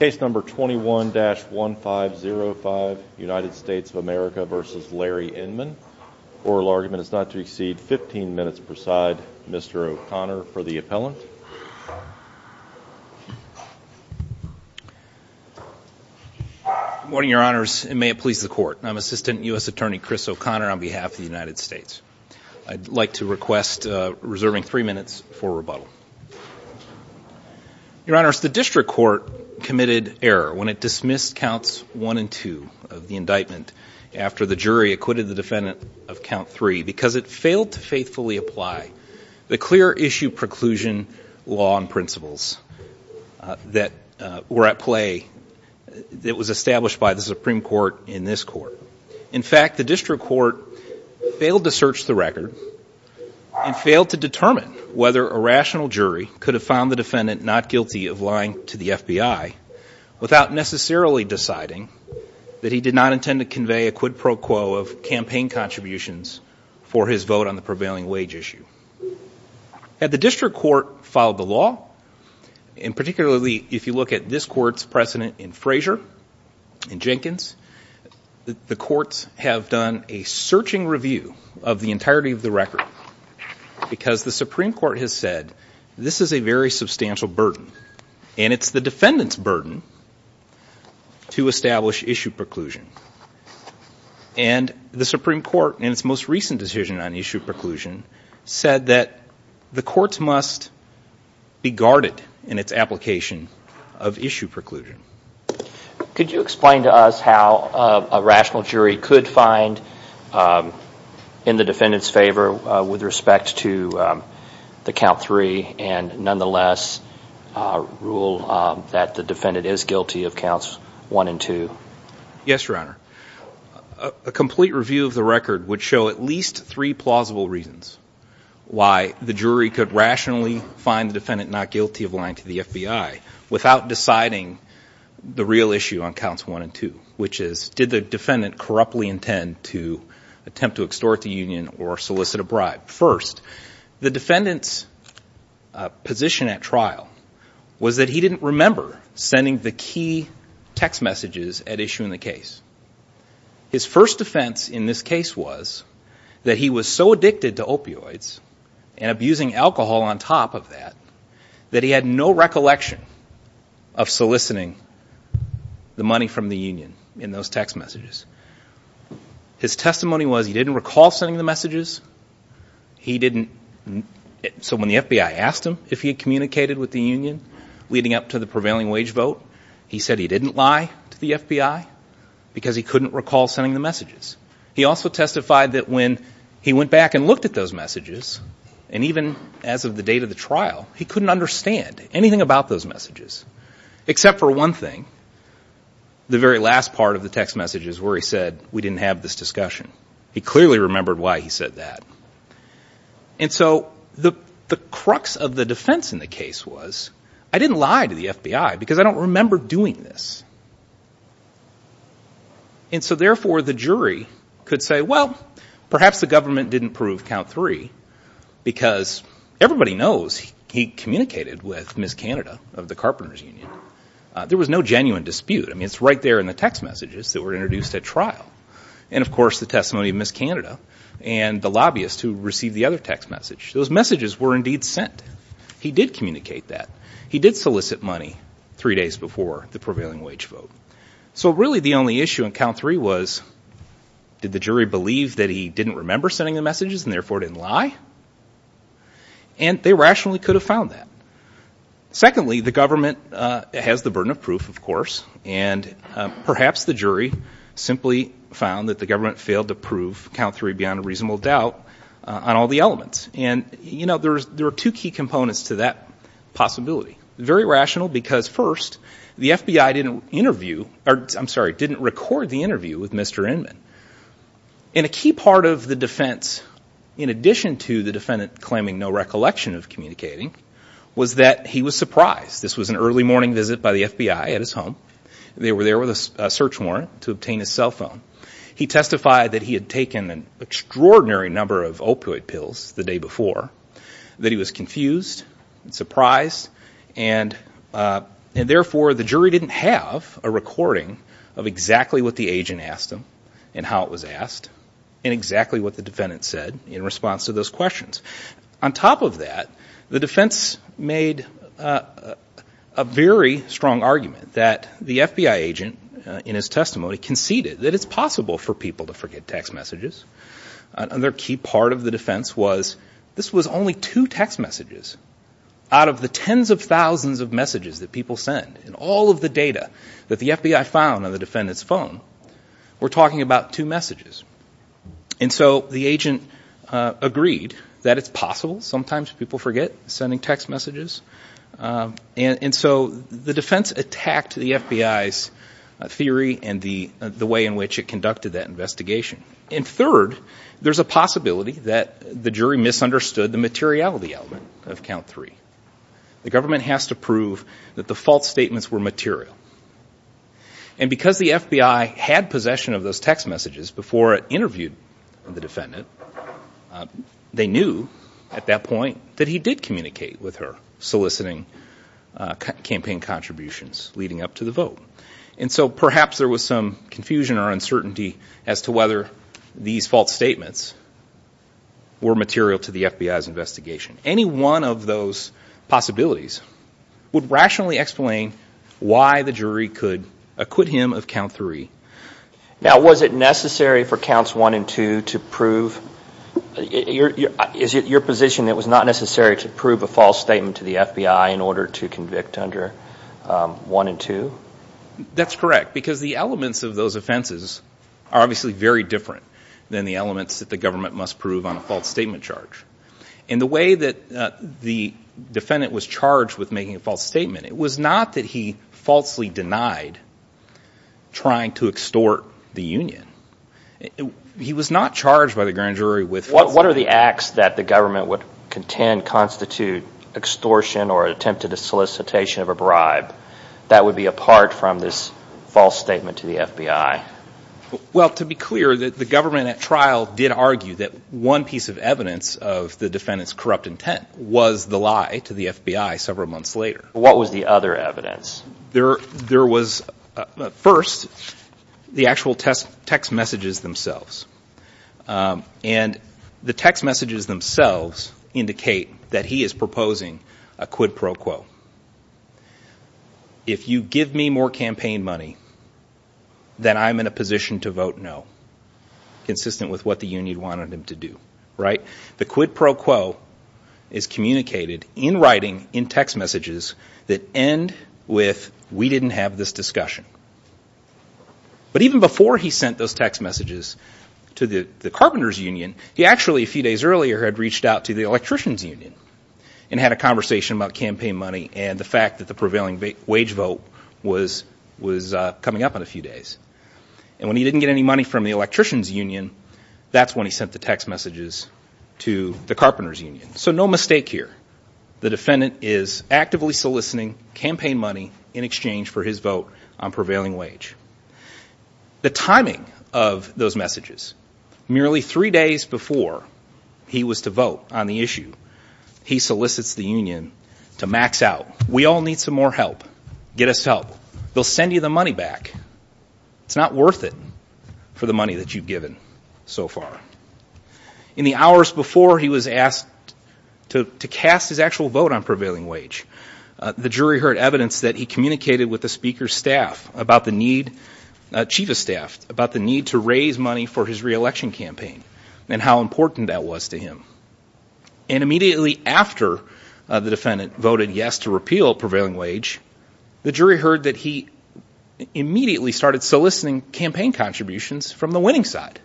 Case number 21-1505, United States of America v. Larry Inman. Oral argument is not to exceed 15 minutes per side. Mr. O'Connor for the appellant. Good morning, Your Honors, and may it please the Court. I'm Assistant U.S. Attorney Chris O'Connor on behalf of the United States. I'd like to request reserving three minutes for rebuttal. Your Honors, the District Court committed error when it dismissed Counts 1 and 2 of the indictment after the jury acquitted the defendant of Count 3 because it failed to faithfully apply the clear issue preclusion law and principles that were at play that was established by the Supreme Court in this Court. In fact, the District Court failed to search the record and failed to determine whether a rational jury could have found the defendant not guilty of lying to the FBI without necessarily deciding that he did not intend to convey a quid pro quo of campaign contributions for his vote on the prevailing wage issue. Had the District Court followed the law, and particularly if you look at this Court's precedent in Frazier and Jenkins, the courts have done a searching review of the entirety of the record because the Supreme Court has said this is a very substantial burden, and it's the defendant's burden to establish issue preclusion. And the Supreme Court in its most recent decision on issue preclusion said that the courts must be guarded in its application of issue preclusion. Could you explain to us how a rational jury could find in the defendant's favor with respect to the Count 3 and nonetheless rule that the defendant is guilty of Counts 1 and 2? Yes, Your Honor. A complete review of the record would show at least three plausible reasons why the jury could rationally find the defendant not guilty of lying to the FBI without deciding the real issue on Counts 1 and 2, which is did the defendant corruptly intend to attempt to extort the union or solicit a bribe? First, the defendant's position at trial was that he didn't remember sending the key text messages at issue in the case. His first offense in this case was that he was so addicted to opioids and abusing alcohol on top of that that he had no recollection of soliciting the money from the union in those text messages. His testimony was he didn't recall sending the messages. He didn't. So when the FBI asked him if he had communicated with the union leading up to the prevailing wage vote, he said he didn't lie to the FBI because he couldn't recall sending the messages. He also testified that when he went back and looked at those messages, and even as of the date of the trial, he couldn't understand anything about those messages except for one thing. The very last part of the text messages where he said we didn't have this discussion. He clearly remembered why he said that. And so the crux of the defense in the case was I didn't lie to the FBI because I don't remember doing this. And so, therefore, the jury could say, well, perhaps the government didn't prove count three because everybody knows he communicated with Ms. Canada of the Carpenters Union. There was no genuine dispute. I mean, it's right there in the text messages that were introduced at trial. And, of course, the testimony of Ms. Canada and the lobbyist who received the other text message, those messages were indeed sent. He did communicate that. He did solicit money three days before the prevailing wage vote. So, really, the only issue in count three was did the jury believe that he didn't remember sending the messages and, therefore, didn't lie? And they rationally could have found that. Secondly, the government has the burden of proof, of course, and perhaps the jury simply found that the government failed to prove count three beyond a reasonable doubt on all the elements. And, you know, there are two key components to that possibility. Very rational because, first, the FBI didn't record the interview with Mr. Inman. And a key part of the defense, in addition to the defendant claiming no recollection of communicating, was that he was surprised. This was an early morning visit by the FBI at his home. They were there with a search warrant to obtain his cell phone. He testified that he had taken an extraordinary number of opioid pills the day before, that he was confused and surprised, and, therefore, the jury didn't have a recording of exactly what the agent asked him and how it was asked and exactly what the defendant said in response to those questions. On top of that, the defense made a very strong argument that the FBI agent, in his testimony, conceded that it's possible for people to forget text messages. Another key part of the defense was this was only two text messages out of the tens of thousands of messages that people send. And all of the data that the FBI found on the defendant's phone were talking about two messages. And so the agent agreed that it's possible sometimes people forget sending text messages. And so the defense attacked the FBI's theory and the way in which it conducted that investigation. And, third, there's a possibility that the jury misunderstood the materiality element of count three. The government has to prove that the false statements were material. And because the FBI had possession of those text messages before it interviewed the defendant, they knew at that point that he did communicate with her soliciting campaign contributions leading up to the vote. And so perhaps there was some confusion or uncertainty as to whether these false statements were material to the FBI's investigation. Any one of those possibilities would rationally explain why the jury could acquit him of count three. Now, was it necessary for counts one and two to prove? Is it your position that it was not necessary to prove a false statement to the FBI in order to convict under one and two? That's correct, because the elements of those offenses are obviously very different than the elements that the government must prove on a false statement charge. And the way that the defendant was charged with making a false statement, it was not that he falsely denied trying to extort the union. He was not charged by the grand jury with false statements. What are the acts that the government would contend constitute extortion or attempted solicitation of a bribe that would be apart from this false statement to the FBI? Well, to be clear, the government at trial did argue that one piece of evidence of the defendant's corrupt intent was the lie to the FBI several months later. What was the other evidence? There was, first, the actual text messages themselves. And the text messages themselves indicate that he is proposing a quid pro quo. If you give me more campaign money, then I'm in a position to vote no, consistent with what the union wanted him to do. The quid pro quo is communicated in writing in text messages that end with, we didn't have this discussion. But even before he sent those text messages to the carpenters union, he actually a few days earlier had reached out to the electricians union and had a conversation about campaign money and the fact that the prevailing wage vote was coming up in a few days. And when he didn't get any money from the electricians union, that's when he sent the text messages to the carpenters union. So no mistake here. The defendant is actively soliciting campaign money in exchange for his vote on prevailing wage. The timing of those messages, merely three days before he was to vote on the issue, he solicits the union to max out. We all need some more help. Get us help. They'll send you the money back. It's not worth it for the money that you've given so far. In the hours before he was asked to cast his actual vote on prevailing wage, the jury heard evidence that he communicated with the speaker's chief of staff about the need to raise money for his re-election campaign and how important that was to him. And immediately after the defendant voted yes to repeal prevailing wage, the jury heard that he immediately started soliciting campaign contributions from the winning side.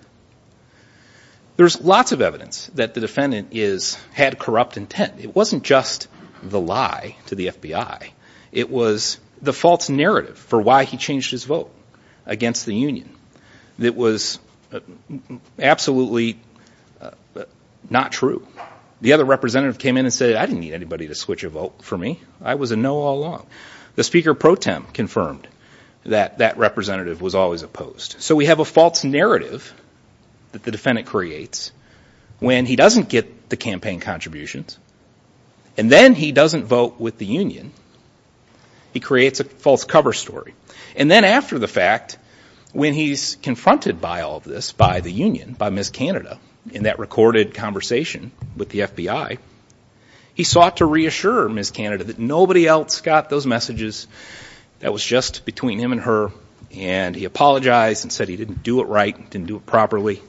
There's lots of evidence that the defendant had corrupt intent. It wasn't just the lie to the FBI. It was the false narrative for why he changed his vote against the union that was absolutely not true. The other representative came in and said, I didn't need anybody to switch a vote for me. I was a no all along. The speaker pro tem confirmed that that representative was always opposed. So we have a false narrative that the defendant creates when he doesn't get the campaign contributions and then he doesn't vote with the union. He creates a false cover story. And then after the fact, when he's confronted by all of this, by the union, by Ms. Canada, in that recorded conversation with the FBI, he sought to reassure Ms. Canada that nobody else got those messages. That was just between him and her. And he apologized and said he didn't do it right, didn't do it properly.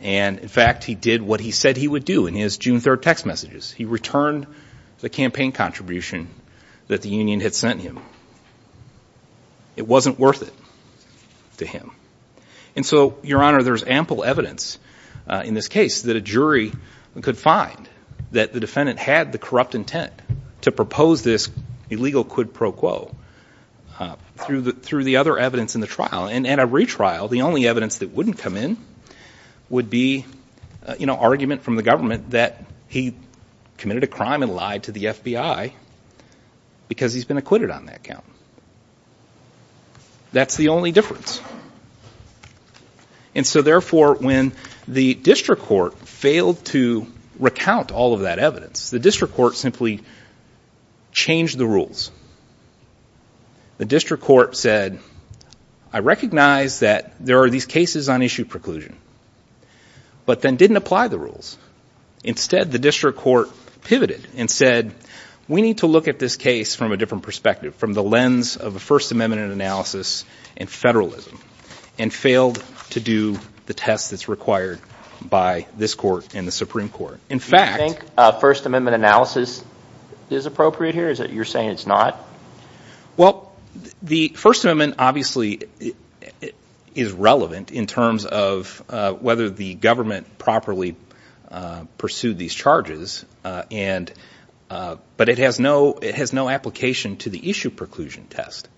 And in fact, he did what he said he would do in his June 3rd text messages. He returned the campaign contribution that the union had sent him. It wasn't worth it to him. And so, Your Honor, there's ample evidence in this case that a jury could find that the defendant had the corrupt intent to propose this illegal quid pro quo through the other evidence in the trial. And at a retrial, the only evidence that wouldn't come in would be, you know, he committed a crime and lied to the FBI because he's been acquitted on that count. That's the only difference. And so, therefore, when the district court failed to recount all of that evidence, the district court simply changed the rules. The district court said, I recognize that there are these cases on issue preclusion, but then didn't apply the rules. Instead, the district court pivoted and said, we need to look at this case from a different perspective, from the lens of a First Amendment analysis and federalism, and failed to do the test that's required by this court and the Supreme Court. Do you think First Amendment analysis is appropriate here? You're saying it's not? Well, the First Amendment obviously is relevant in terms of whether the government properly pursued these charges, but it has no application to the issue preclusion test.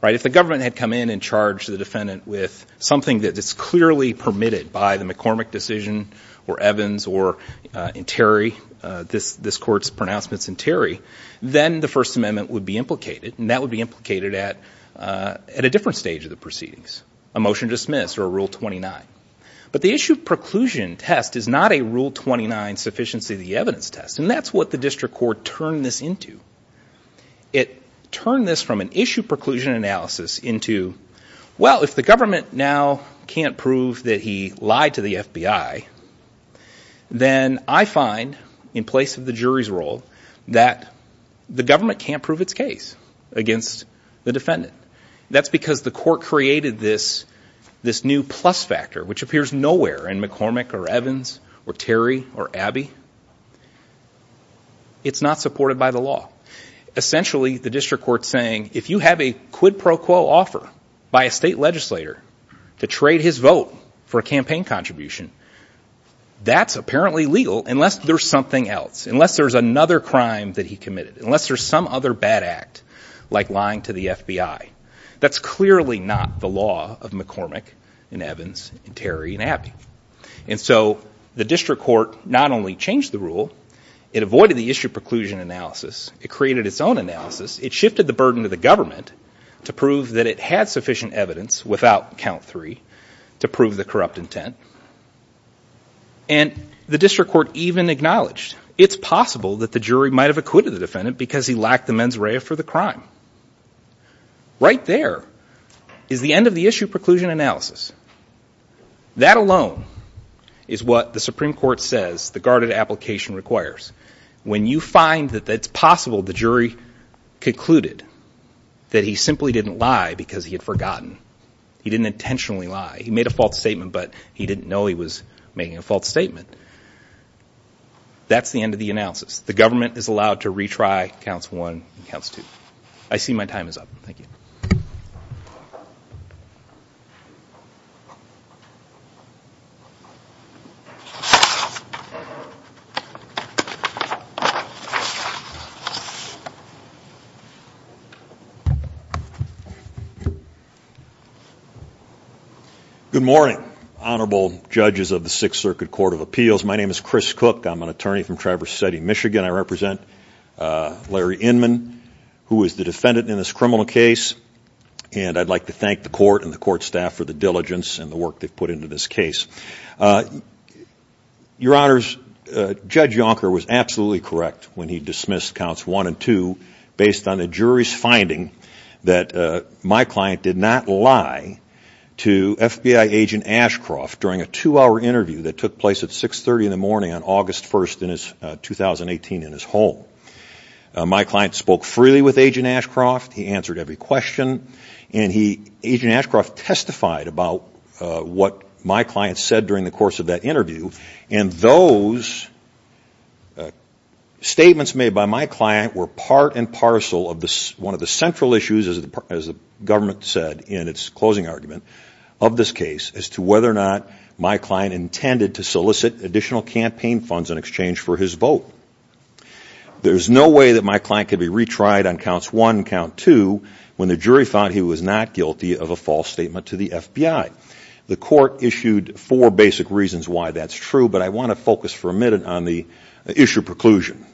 If the government had come in and charged the defendant with something that's clearly permitted by the McCormick decision or Evans or Terry, this court's pronouncements in Terry, then the First Amendment would be implicated, and that would be implicated at a different stage of the proceedings, a motion to dismiss or a Rule 29. But the issue preclusion test is not a Rule 29 sufficiency of the evidence test, and that's what the district court turned this into. It turned this from an issue preclusion analysis into, well, if the government now can't prove that he lied to the FBI, then I find, in place of the jury's role, that the government can't prove its case against the defendant. That's because the court created this new plus factor, which appears nowhere in McCormick or Evans or Terry or Abbey. It's not supported by the law. Essentially, the district court's saying, if you have a quid pro quo offer by a state legislator to trade his vote for a campaign contribution, that's apparently legal unless there's something else, unless there's another crime that he committed, unless there's some other bad act like lying to the FBI. That's clearly not the law of McCormick and Evans and Terry and Abbey. And so the district court not only changed the rule, it avoided the issue preclusion analysis. It created its own analysis. It shifted the burden to the government to prove that it had sufficient evidence without count three to prove the corrupt intent. And the district court even acknowledged, it's possible that the jury might have acquitted the defendant because he lacked the mens rea for the crime. Right there is the end of the issue preclusion analysis. That alone is what the Supreme Court says the guarded application requires. When you find that it's possible the jury concluded that he simply didn't lie because he had forgotten. He didn't intentionally lie. He made a false statement, but he didn't know he was making a false statement. That's the end of the analysis. The government is allowed to retry counts one and counts two. I see my time is up. Thank you. Good morning, honorable judges of the Sixth Circuit Court of Appeals. My name is Chris Cook. I'm an attorney from Traverse City, Michigan. I represent Larry Inman, who is the defendant in this criminal case. And I'd like to thank the court and the court staff for the diligence and the work they've put into this case. Your honors, Judge Yonker was absolutely correct when he dismissed counts one and two based on the jury's finding that my client did not lie to FBI agent Ashcroft during a two-hour interview that took place at 630 in the morning on August 1st in his 2018 in his home. My client spoke freely with agent Ashcroft. He answered every question. And agent Ashcroft testified about what my client said during the course of that interview. And those statements made by my client were part and parcel of one of the central issues, as the government said in its closing argument, of this case, as to whether or not my client intended to solicit additional campaign funds in exchange for his vote. There's no way that my client could be retried on counts one and count two when the jury thought he was not guilty of a false statement to the FBI. The court issued four basic reasons why that's true, but I want to focus for a minute on the issue of preclusion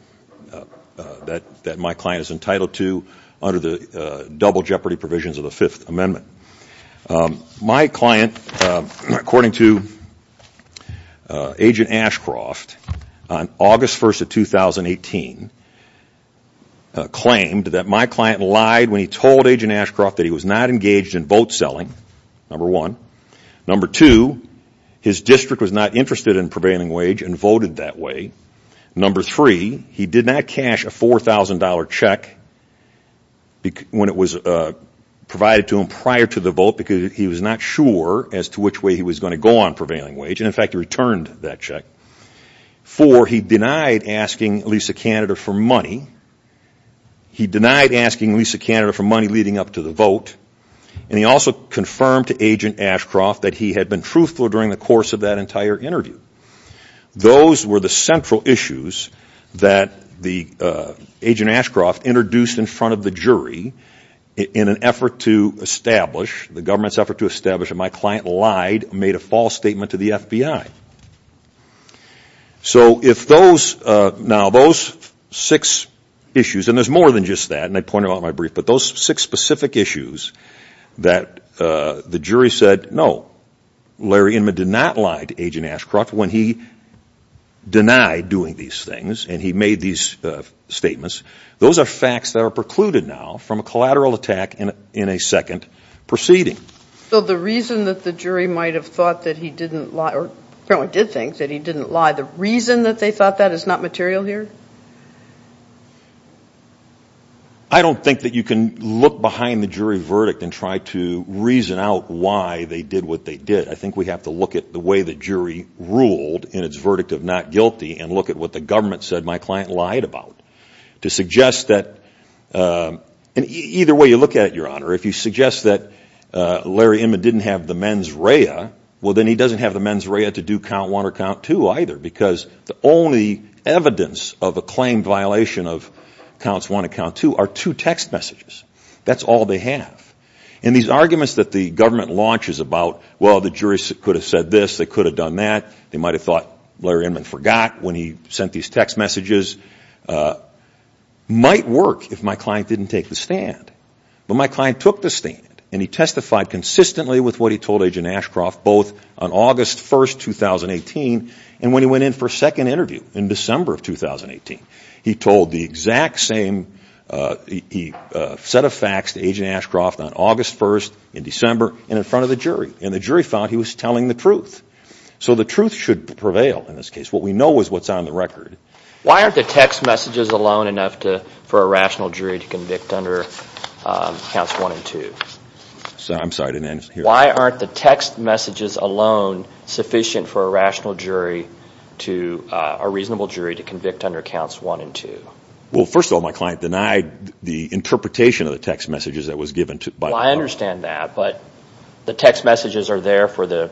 that my client is entitled to under the double jeopardy provisions of the Fifth Amendment. My client, according to agent Ashcroft, on August 1st of 2018, claimed that my client lied when he told agent Ashcroft that he was not engaged in vote selling, number one. Number two, his district was not interested in prevailing wage and voted that way. Number three, he did not cash a $4,000 check when it was provided to him prior to the vote because he was not sure as to which way he was going to go on prevailing wage. He returned that check. Four, he denied asking Lisa Canada for money. He denied asking Lisa Canada for money leading up to the vote. And he also confirmed to agent Ashcroft that he had been truthful during the course of that entire interview. Those were the central issues that the agent Ashcroft introduced in front of the jury in an effort to establish, the government's effort to establish that my client lied, made a false statement to the FBI. So if those, now those six issues, and there's more than just that, and I pointed out in my brief, but those six specific issues that the jury said, no, Larry Inman did not lie to agent Ashcroft when he denied doing these things and he made these statements, those are facts that are precluded now from a collateral attack in a second proceeding. The reason that the jury might have thought that he didn't lie, or apparently did think that he didn't lie, the reason that they thought that is not material here? I don't think that you can look behind the jury verdict and try to reason out why they did what they did. I think we have to look at the way the jury ruled in its verdict of not guilty and look at what the government said my client lied about. To suggest that, well, he doesn't have the mens rea, well, then he doesn't have the mens rea to do count one or count two either because the only evidence of a claim violation of counts one and count two are two text messages. That's all they have. And these arguments that the government launches about, well, the jury could have said this, they could have done that, they might have thought Larry Inman forgot when he sent these text messages, might work if my client told Agent Ashcroft both on August 1st, 2018 and when he went in for a second interview in December of 2018. He told the exact same set of facts to Agent Ashcroft on August 1st in December and in front of the jury and the jury found he was telling the truth. So the truth should prevail in this case. What we know is what's on the record. Why aren't the text messages alone enough for a rational jury to convict under counts one and two? Well, first of all, my client denied the interpretation of the text messages that was given. Well, I understand that, but the text messages are there for the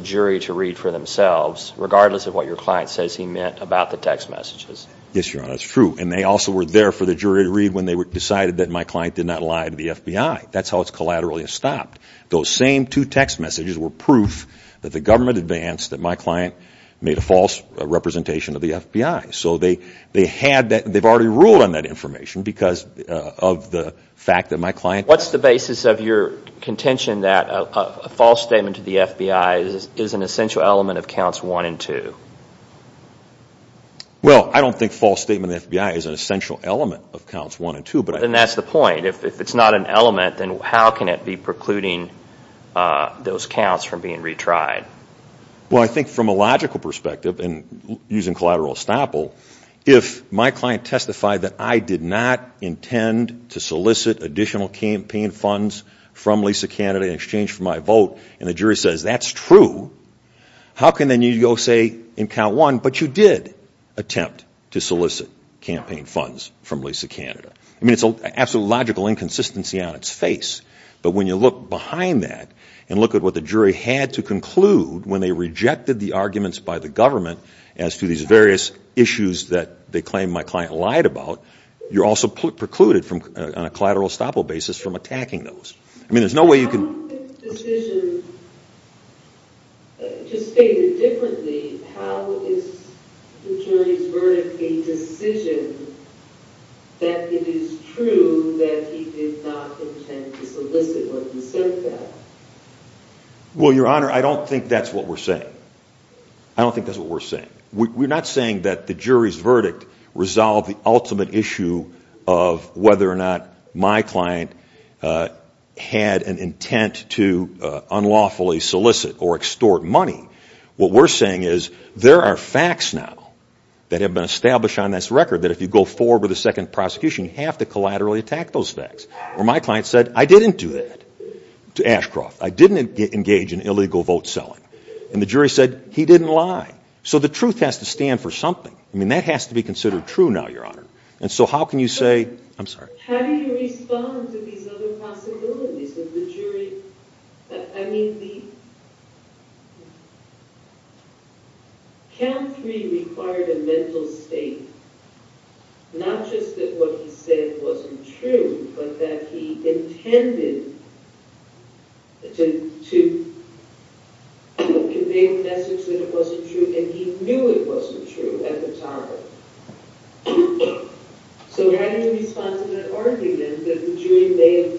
jury to read for themselves regardless of what your client says he meant about the text messages. Yes, Your Honor, that's true. And they also were there for the jury that my client did not lie to the FBI. So, I'm sorry, I didn't answer your question. That's how it's collaterally stopped. Those same two text messages were proof that the government advanced that my client made a false representation of the FBI. So they had that, they've already ruled on that information because of the fact that my client... What's the basis of your contention that a false statement to the FBI is an essential element of counts one and two? Well, I don't think a false statement to the FBI is an essential element of counts one and two, but... And how can it be precluding those counts from being retried? Well, I think from a logical perspective and using collateral estoppel, if my client testified that I did not intend to solicit additional campaign funds from Lisa Canada in exchange for my vote and the jury says that's true, how can then you go say in count one but you did attempt to solicit campaign funds from Lisa Canada? I mean, it's an absolute logical case, but when you look behind that and look at what the jury had to conclude when they rejected the arguments by the government as to these various issues that they claimed my client lied about, you're also precluded on a collateral estoppel basis from attacking those. I mean, there's no way you can... I don't think the decision just stated differently. How is the jury's verdict a decision that it is true that he did not intend to solicit what he said? Well, Your Honor, I don't think that's what we're saying. I don't think that's what we're saying. We're not saying that the jury's verdict resolved the ultimate issue of whether or not my client had an intent to unlawfully solicit or extort money. What we're saying is there are facts now that have been established on this record that if you go forward with a second prosecution, you have to collaterally attack those facts. Or my client said, I didn't do that to Ashcroft. I didn't engage in illegal vote selling. And the jury said he didn't lie. So the truth has to stand for something. I mean, that has to be considered true now, Your Honor. And so how can you say... I'm sorry. How do you respond to these other possibilities of the jury... I mean, the... Not just that what he said wasn't true, but that he intended to... convey a message that it wasn't true and he knew it wasn't true at the time. So how do you respond to that argument that the jury may have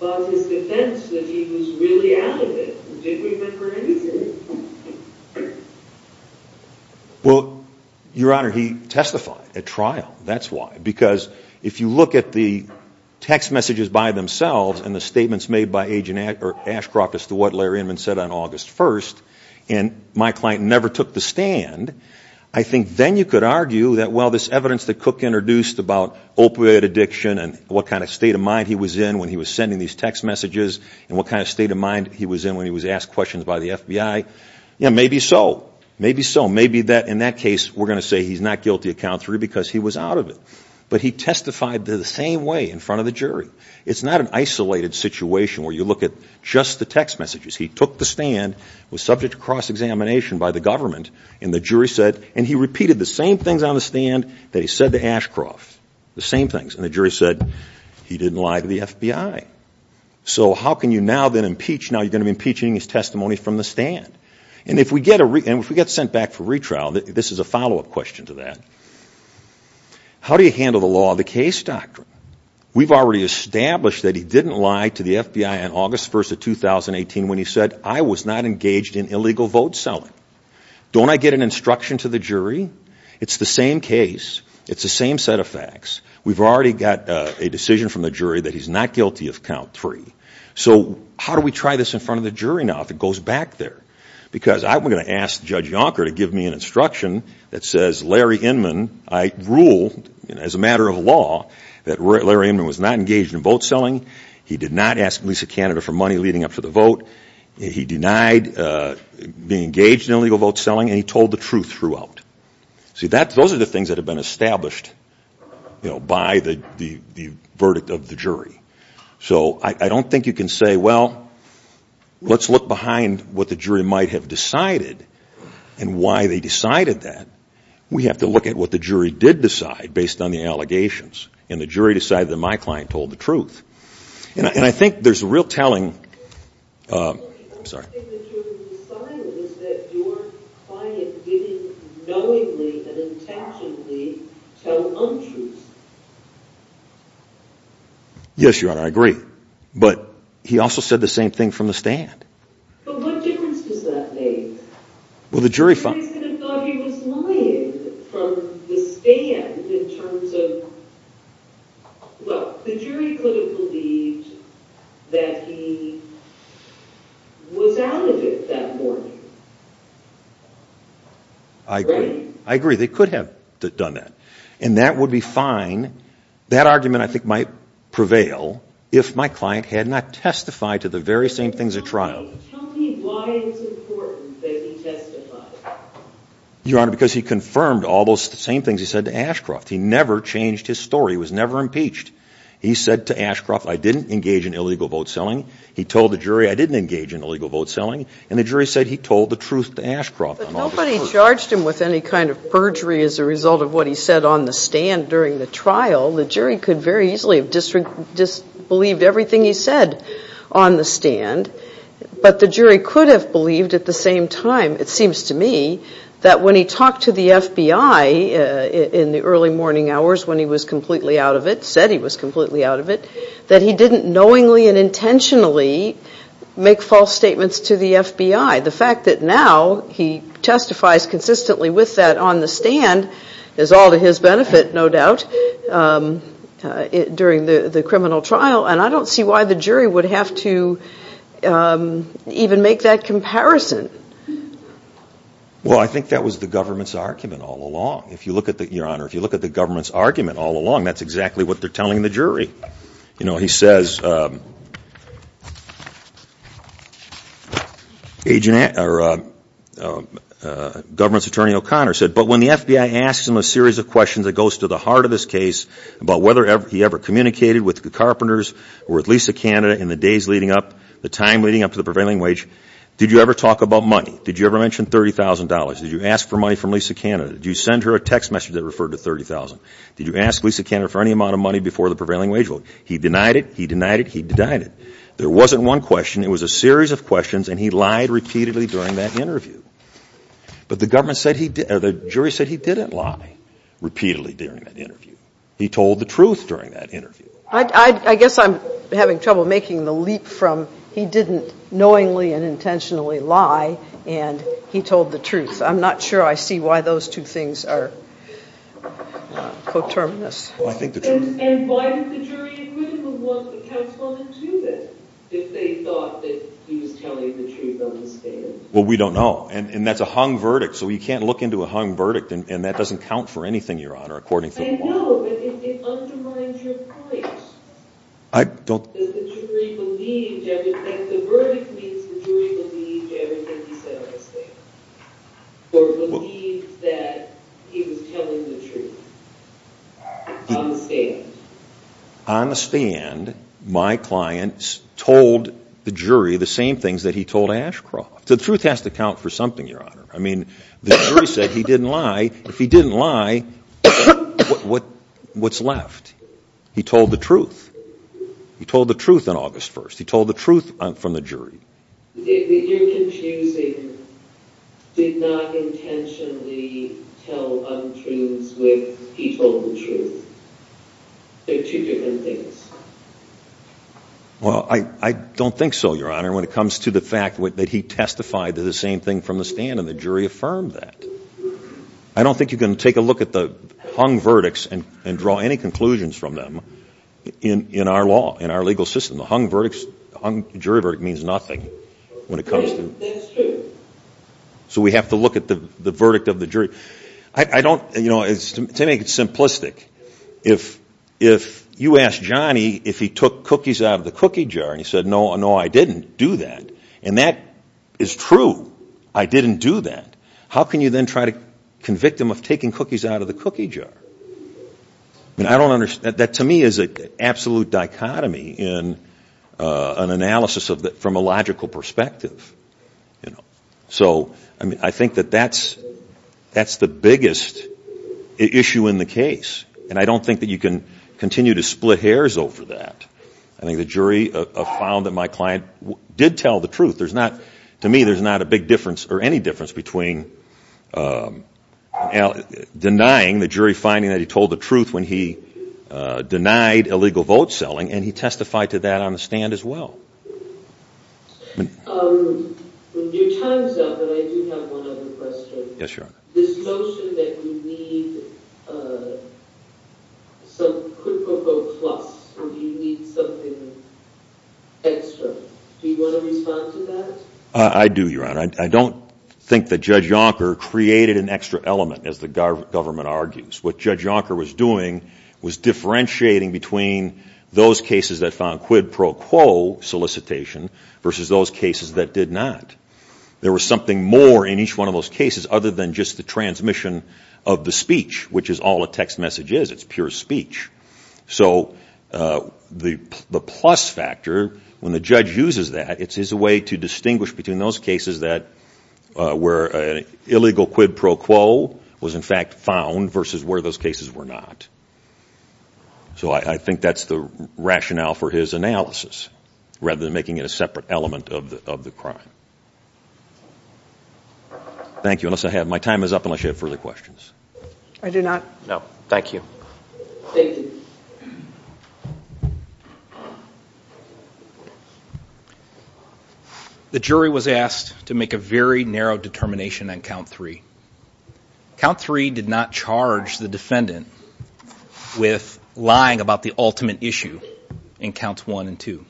fought his defense that he was really out of it and didn't repent for anything? Well, Your Honor, because if you look at the text messages by themselves and the statements made by Agent Ashcroft as to what Larry Inman said on August 1st and my client never took the stand, I think then you could argue that, well, this evidence that Cook introduced about opioid addiction and what kind of state of mind he was in when he was sending these text messages and what kind of state of mind he was in when he was asked questions by the FBI. Yeah, maybe so. Maybe so. Maybe in that case we're going to say he's not guilty of count three because he was out of it. But he testified the same way in front of the jury. It's not an isolated situation where you look at just the text messages. He took the stand, was subject to cross-examination by the government, and the jury said... And he repeated the same things on the stand that he said to Ashcroft. The same things. And the jury said he didn't lie to the FBI. So how can you now then impeach... Now you're going to be impeaching his testimony from the stand. And if we get sent back for retrial... This is a follow-up question to that. How do you handle the law of the case doctrine? We've already established that he didn't lie to the FBI on August 1st of 2018 when he said I was not engaged in illegal vote selling. Don't I get an instruction to the jury? It's the same case. It's the same set of facts. We've already got a decision from the jury that he's not guilty of count three. So how do we try this in front of the jury now if it goes back there? Because I'm going to ask Judge Yonker to give me an instruction that says Larry Inman I rule as a matter of law that Larry Inman was not engaged in vote selling. He did not ask Lisa Canada for money leading up to the vote. He denied being engaged in illegal vote selling and he told the truth throughout. See those are the things that have been established by the verdict of the jury. So I don't think you can say well let's look behind what the jury might have decided and why they decided that. We have to look at what the jury did decide based on the allegations and the jury decided that my client told the truth. And I think there's a real telling The only thing that you decided was that your client didn't knowingly and intentionally tell untruths. But what difference does that make? Everybody's going to have thought he was lying from the stand in terms of well the jury could have believed that he was out of it that morning. I agree. I agree. They could have done that. And that would be fine. That argument I think might prevail if my client had not testified to the very same things at trial. Your Honor because he confirmed all those same things he said to Ashcroft. He never changed his story. He was never impeached. He said to Ashcroft I didn't engage in illegal vote selling. He told the jury I didn't engage in illegal vote selling. And the jury said he told the truth to Ashcroft. But nobody charged him with any kind of perjury as a result of what he said on the stand during the trial. The jury could very easily have disbelieved everything he said on the stand. But the jury could have believed at the same time it seems to me that when he talked to the FBI in the early morning hours when he was completely out of it when he said he was completely out of it that he didn't knowingly and intentionally make false statements to the FBI. The fact that now he testifies consistently with that on the stand is all to his benefit no doubt during the criminal trial and I don't see why the jury would have to even make that comparison. Well I think that was the government's argument all along. If you look at the Your Honor if you look at the government's argument all along that's exactly what they're telling the jury. You know he says Agent or government's attorney O'Connor said but when the FBI asks him a series of questions that goes to the heart of this case about whether he ever communicated with the Carpenters or with Lisa Canada in the days leading up the time leading up to the death of Lisa Canada for any amount of money before the prevailing wage vote. He denied it. He denied it. He denied it. There wasn't one question. It was a series of questions and he lied repeatedly during that interview. But the government said he didn't lie repeatedly during that interview. He told the truth during that interview. I guess I'm having trouble making the leap from he didn't knowingly and intentionally lie and he told the truth. I'm not sure I see why those two things are coterminous. And why did the jury agree with the verdict? It undermines your point. The verdict means the jury believed everything he said on the stand. Or believed that he was telling the truth. On the stand. On the stand, my client told the jury the same things he told Ashcroft. The truth has to count for something. The jury said he didn't lie. If he didn't lie, what's left? He told the truth. He told the truth on August 1st. He told the truth from the jury. You're confusing did not intentionally tell untruths with he told the truth. There are two different that. I don't think so, your honor, when it comes to the fact that he testified the same thing from the stand and the jury affirmed that. I don't think you can take a look at the hung verdicts and draw any conclusions from them in our legal system. The hung verdict means nothing. So we have to look at the verdict of the jury. To make it simplistic, if you asked Johnny if he took cookies out of the cookie jar and said no, I didn't do that, and that is true, I didn't do that, how can you then try to convict him of taking cookies out of the cookie jar? That, to me, is an absolute dichotomy in an analysis from a logical perspective. So I think that that's the biggest issue in the case. And I don't think that you can continue to split hairs over that. I think the jury found that my client did tell the truth. To me, there's not a big difference, or any difference between denying the jury finding that he told the truth when he denied illegal vote selling, and he testified to that on the stand as well. When your time's up, and I do have one other question, this notion that we need some quid pro quo plus, or do you need something extra, do you want to do that? I don't think that Judge Yonker created an extra element, as the government argues. What Judge Yonker was doing was differentiating between those cases that found quid pro quo solicitation versus those cases that did not. There was something more in each one of those cases other than just the transmission of the quid pro quo. I think that's the rationale for his analysis, rather than making it a separate element of the crime. Thank you. you have further questions. I do not. No. Thank you. The jury was asked to make a comment on the quid pro quo The jury made a very narrow determination on count three. Count three did not charge the defendant with lying about the ultimate issue in counts one and two.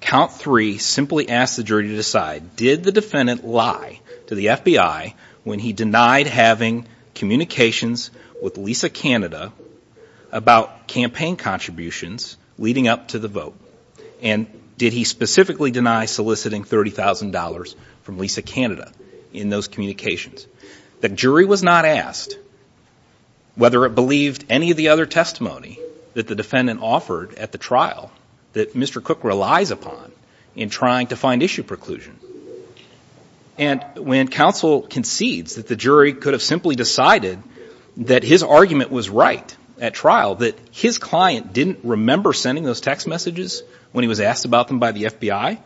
Count three simply asked the jury to decide did the defendant lie to the FBI when he denied having communications with Lisa Canada about campaign contributions leading up to the vote. And did he specifically deny soliciting 30,000 dollars from Lisa Canada in those communications. The jury was not asked whether it believed any of the other testimony that the defendant offered at the trial that Mr. Cook relies upon in trying to find issue preclusion. And when counsel concedes that the jury could have simply decided that his argument was right at trial that his client didn't remember sending those text messages when he was asked about them by the FBI,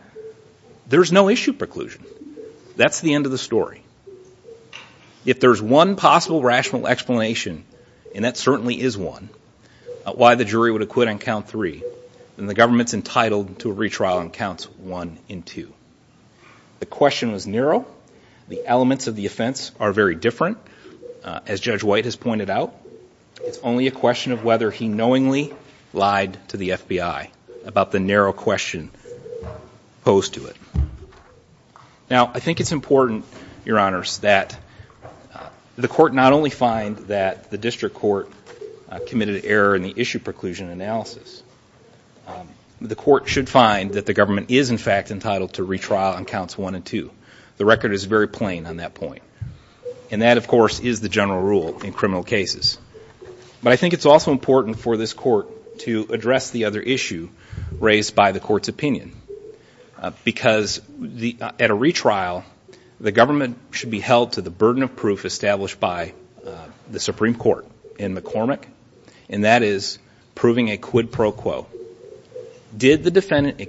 there's no issue preclusion. That's the end of the story. If there's one possible rational explanation, and that certainly is one, why the jury would acquit on count three, then the government is entitled to a retrial on counts one and two. The record is very plain on that point. And that, of course, is the criminal cases. But I think it's also important for this court to address the other issue raised by the court. And that is the general rule. The rule is that the government should be held to the burden of proof established by the Supreme Court in McCormick, and that is proving a quid pro quo. Did the defendant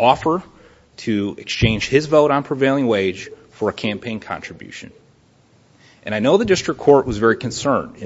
offer to exchange his vote on prevailing wage for a campaign wage? offer to exchange his vote on prevailing wage for a campaign wage? Did the defendant offer to exchange his vote on prevailing wage for a campaign wage? And that is the general rule. And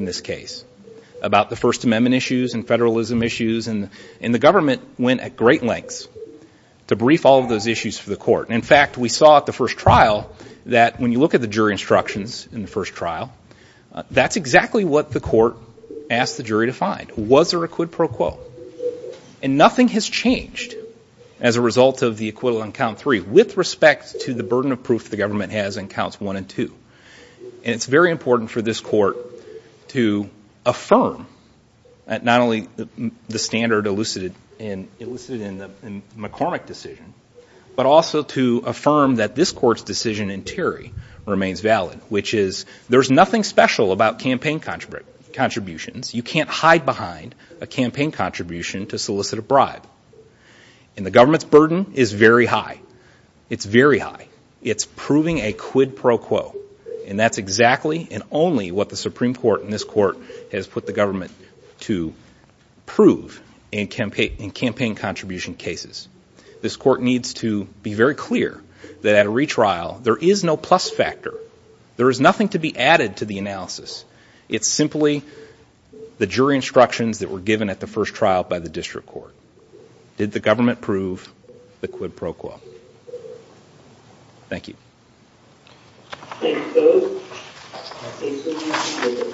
it's very important for this court to affirm that not only the standard elucidated in the McCormick decision, but also to affirm that this court's decision in Terry remains valid, which is there's nothing special about campaign contributions. You can't hide behind a campaign contribution to solicit a bribe. And the government's burden is very high. It's very high. It's proving a quid pro quo. And that's exactly and only what the Supreme Court and this court has put the government to prove in campaign contribution cases. This court needs to be very clear that at a retrial, there is no plus factor. There is nothing to be added to the analysis. It's simply the jury instructions that were given at the first trial by the district court. Did the government prove the quid pro quo? Thank you. Thank you, folks. I'll take some questions.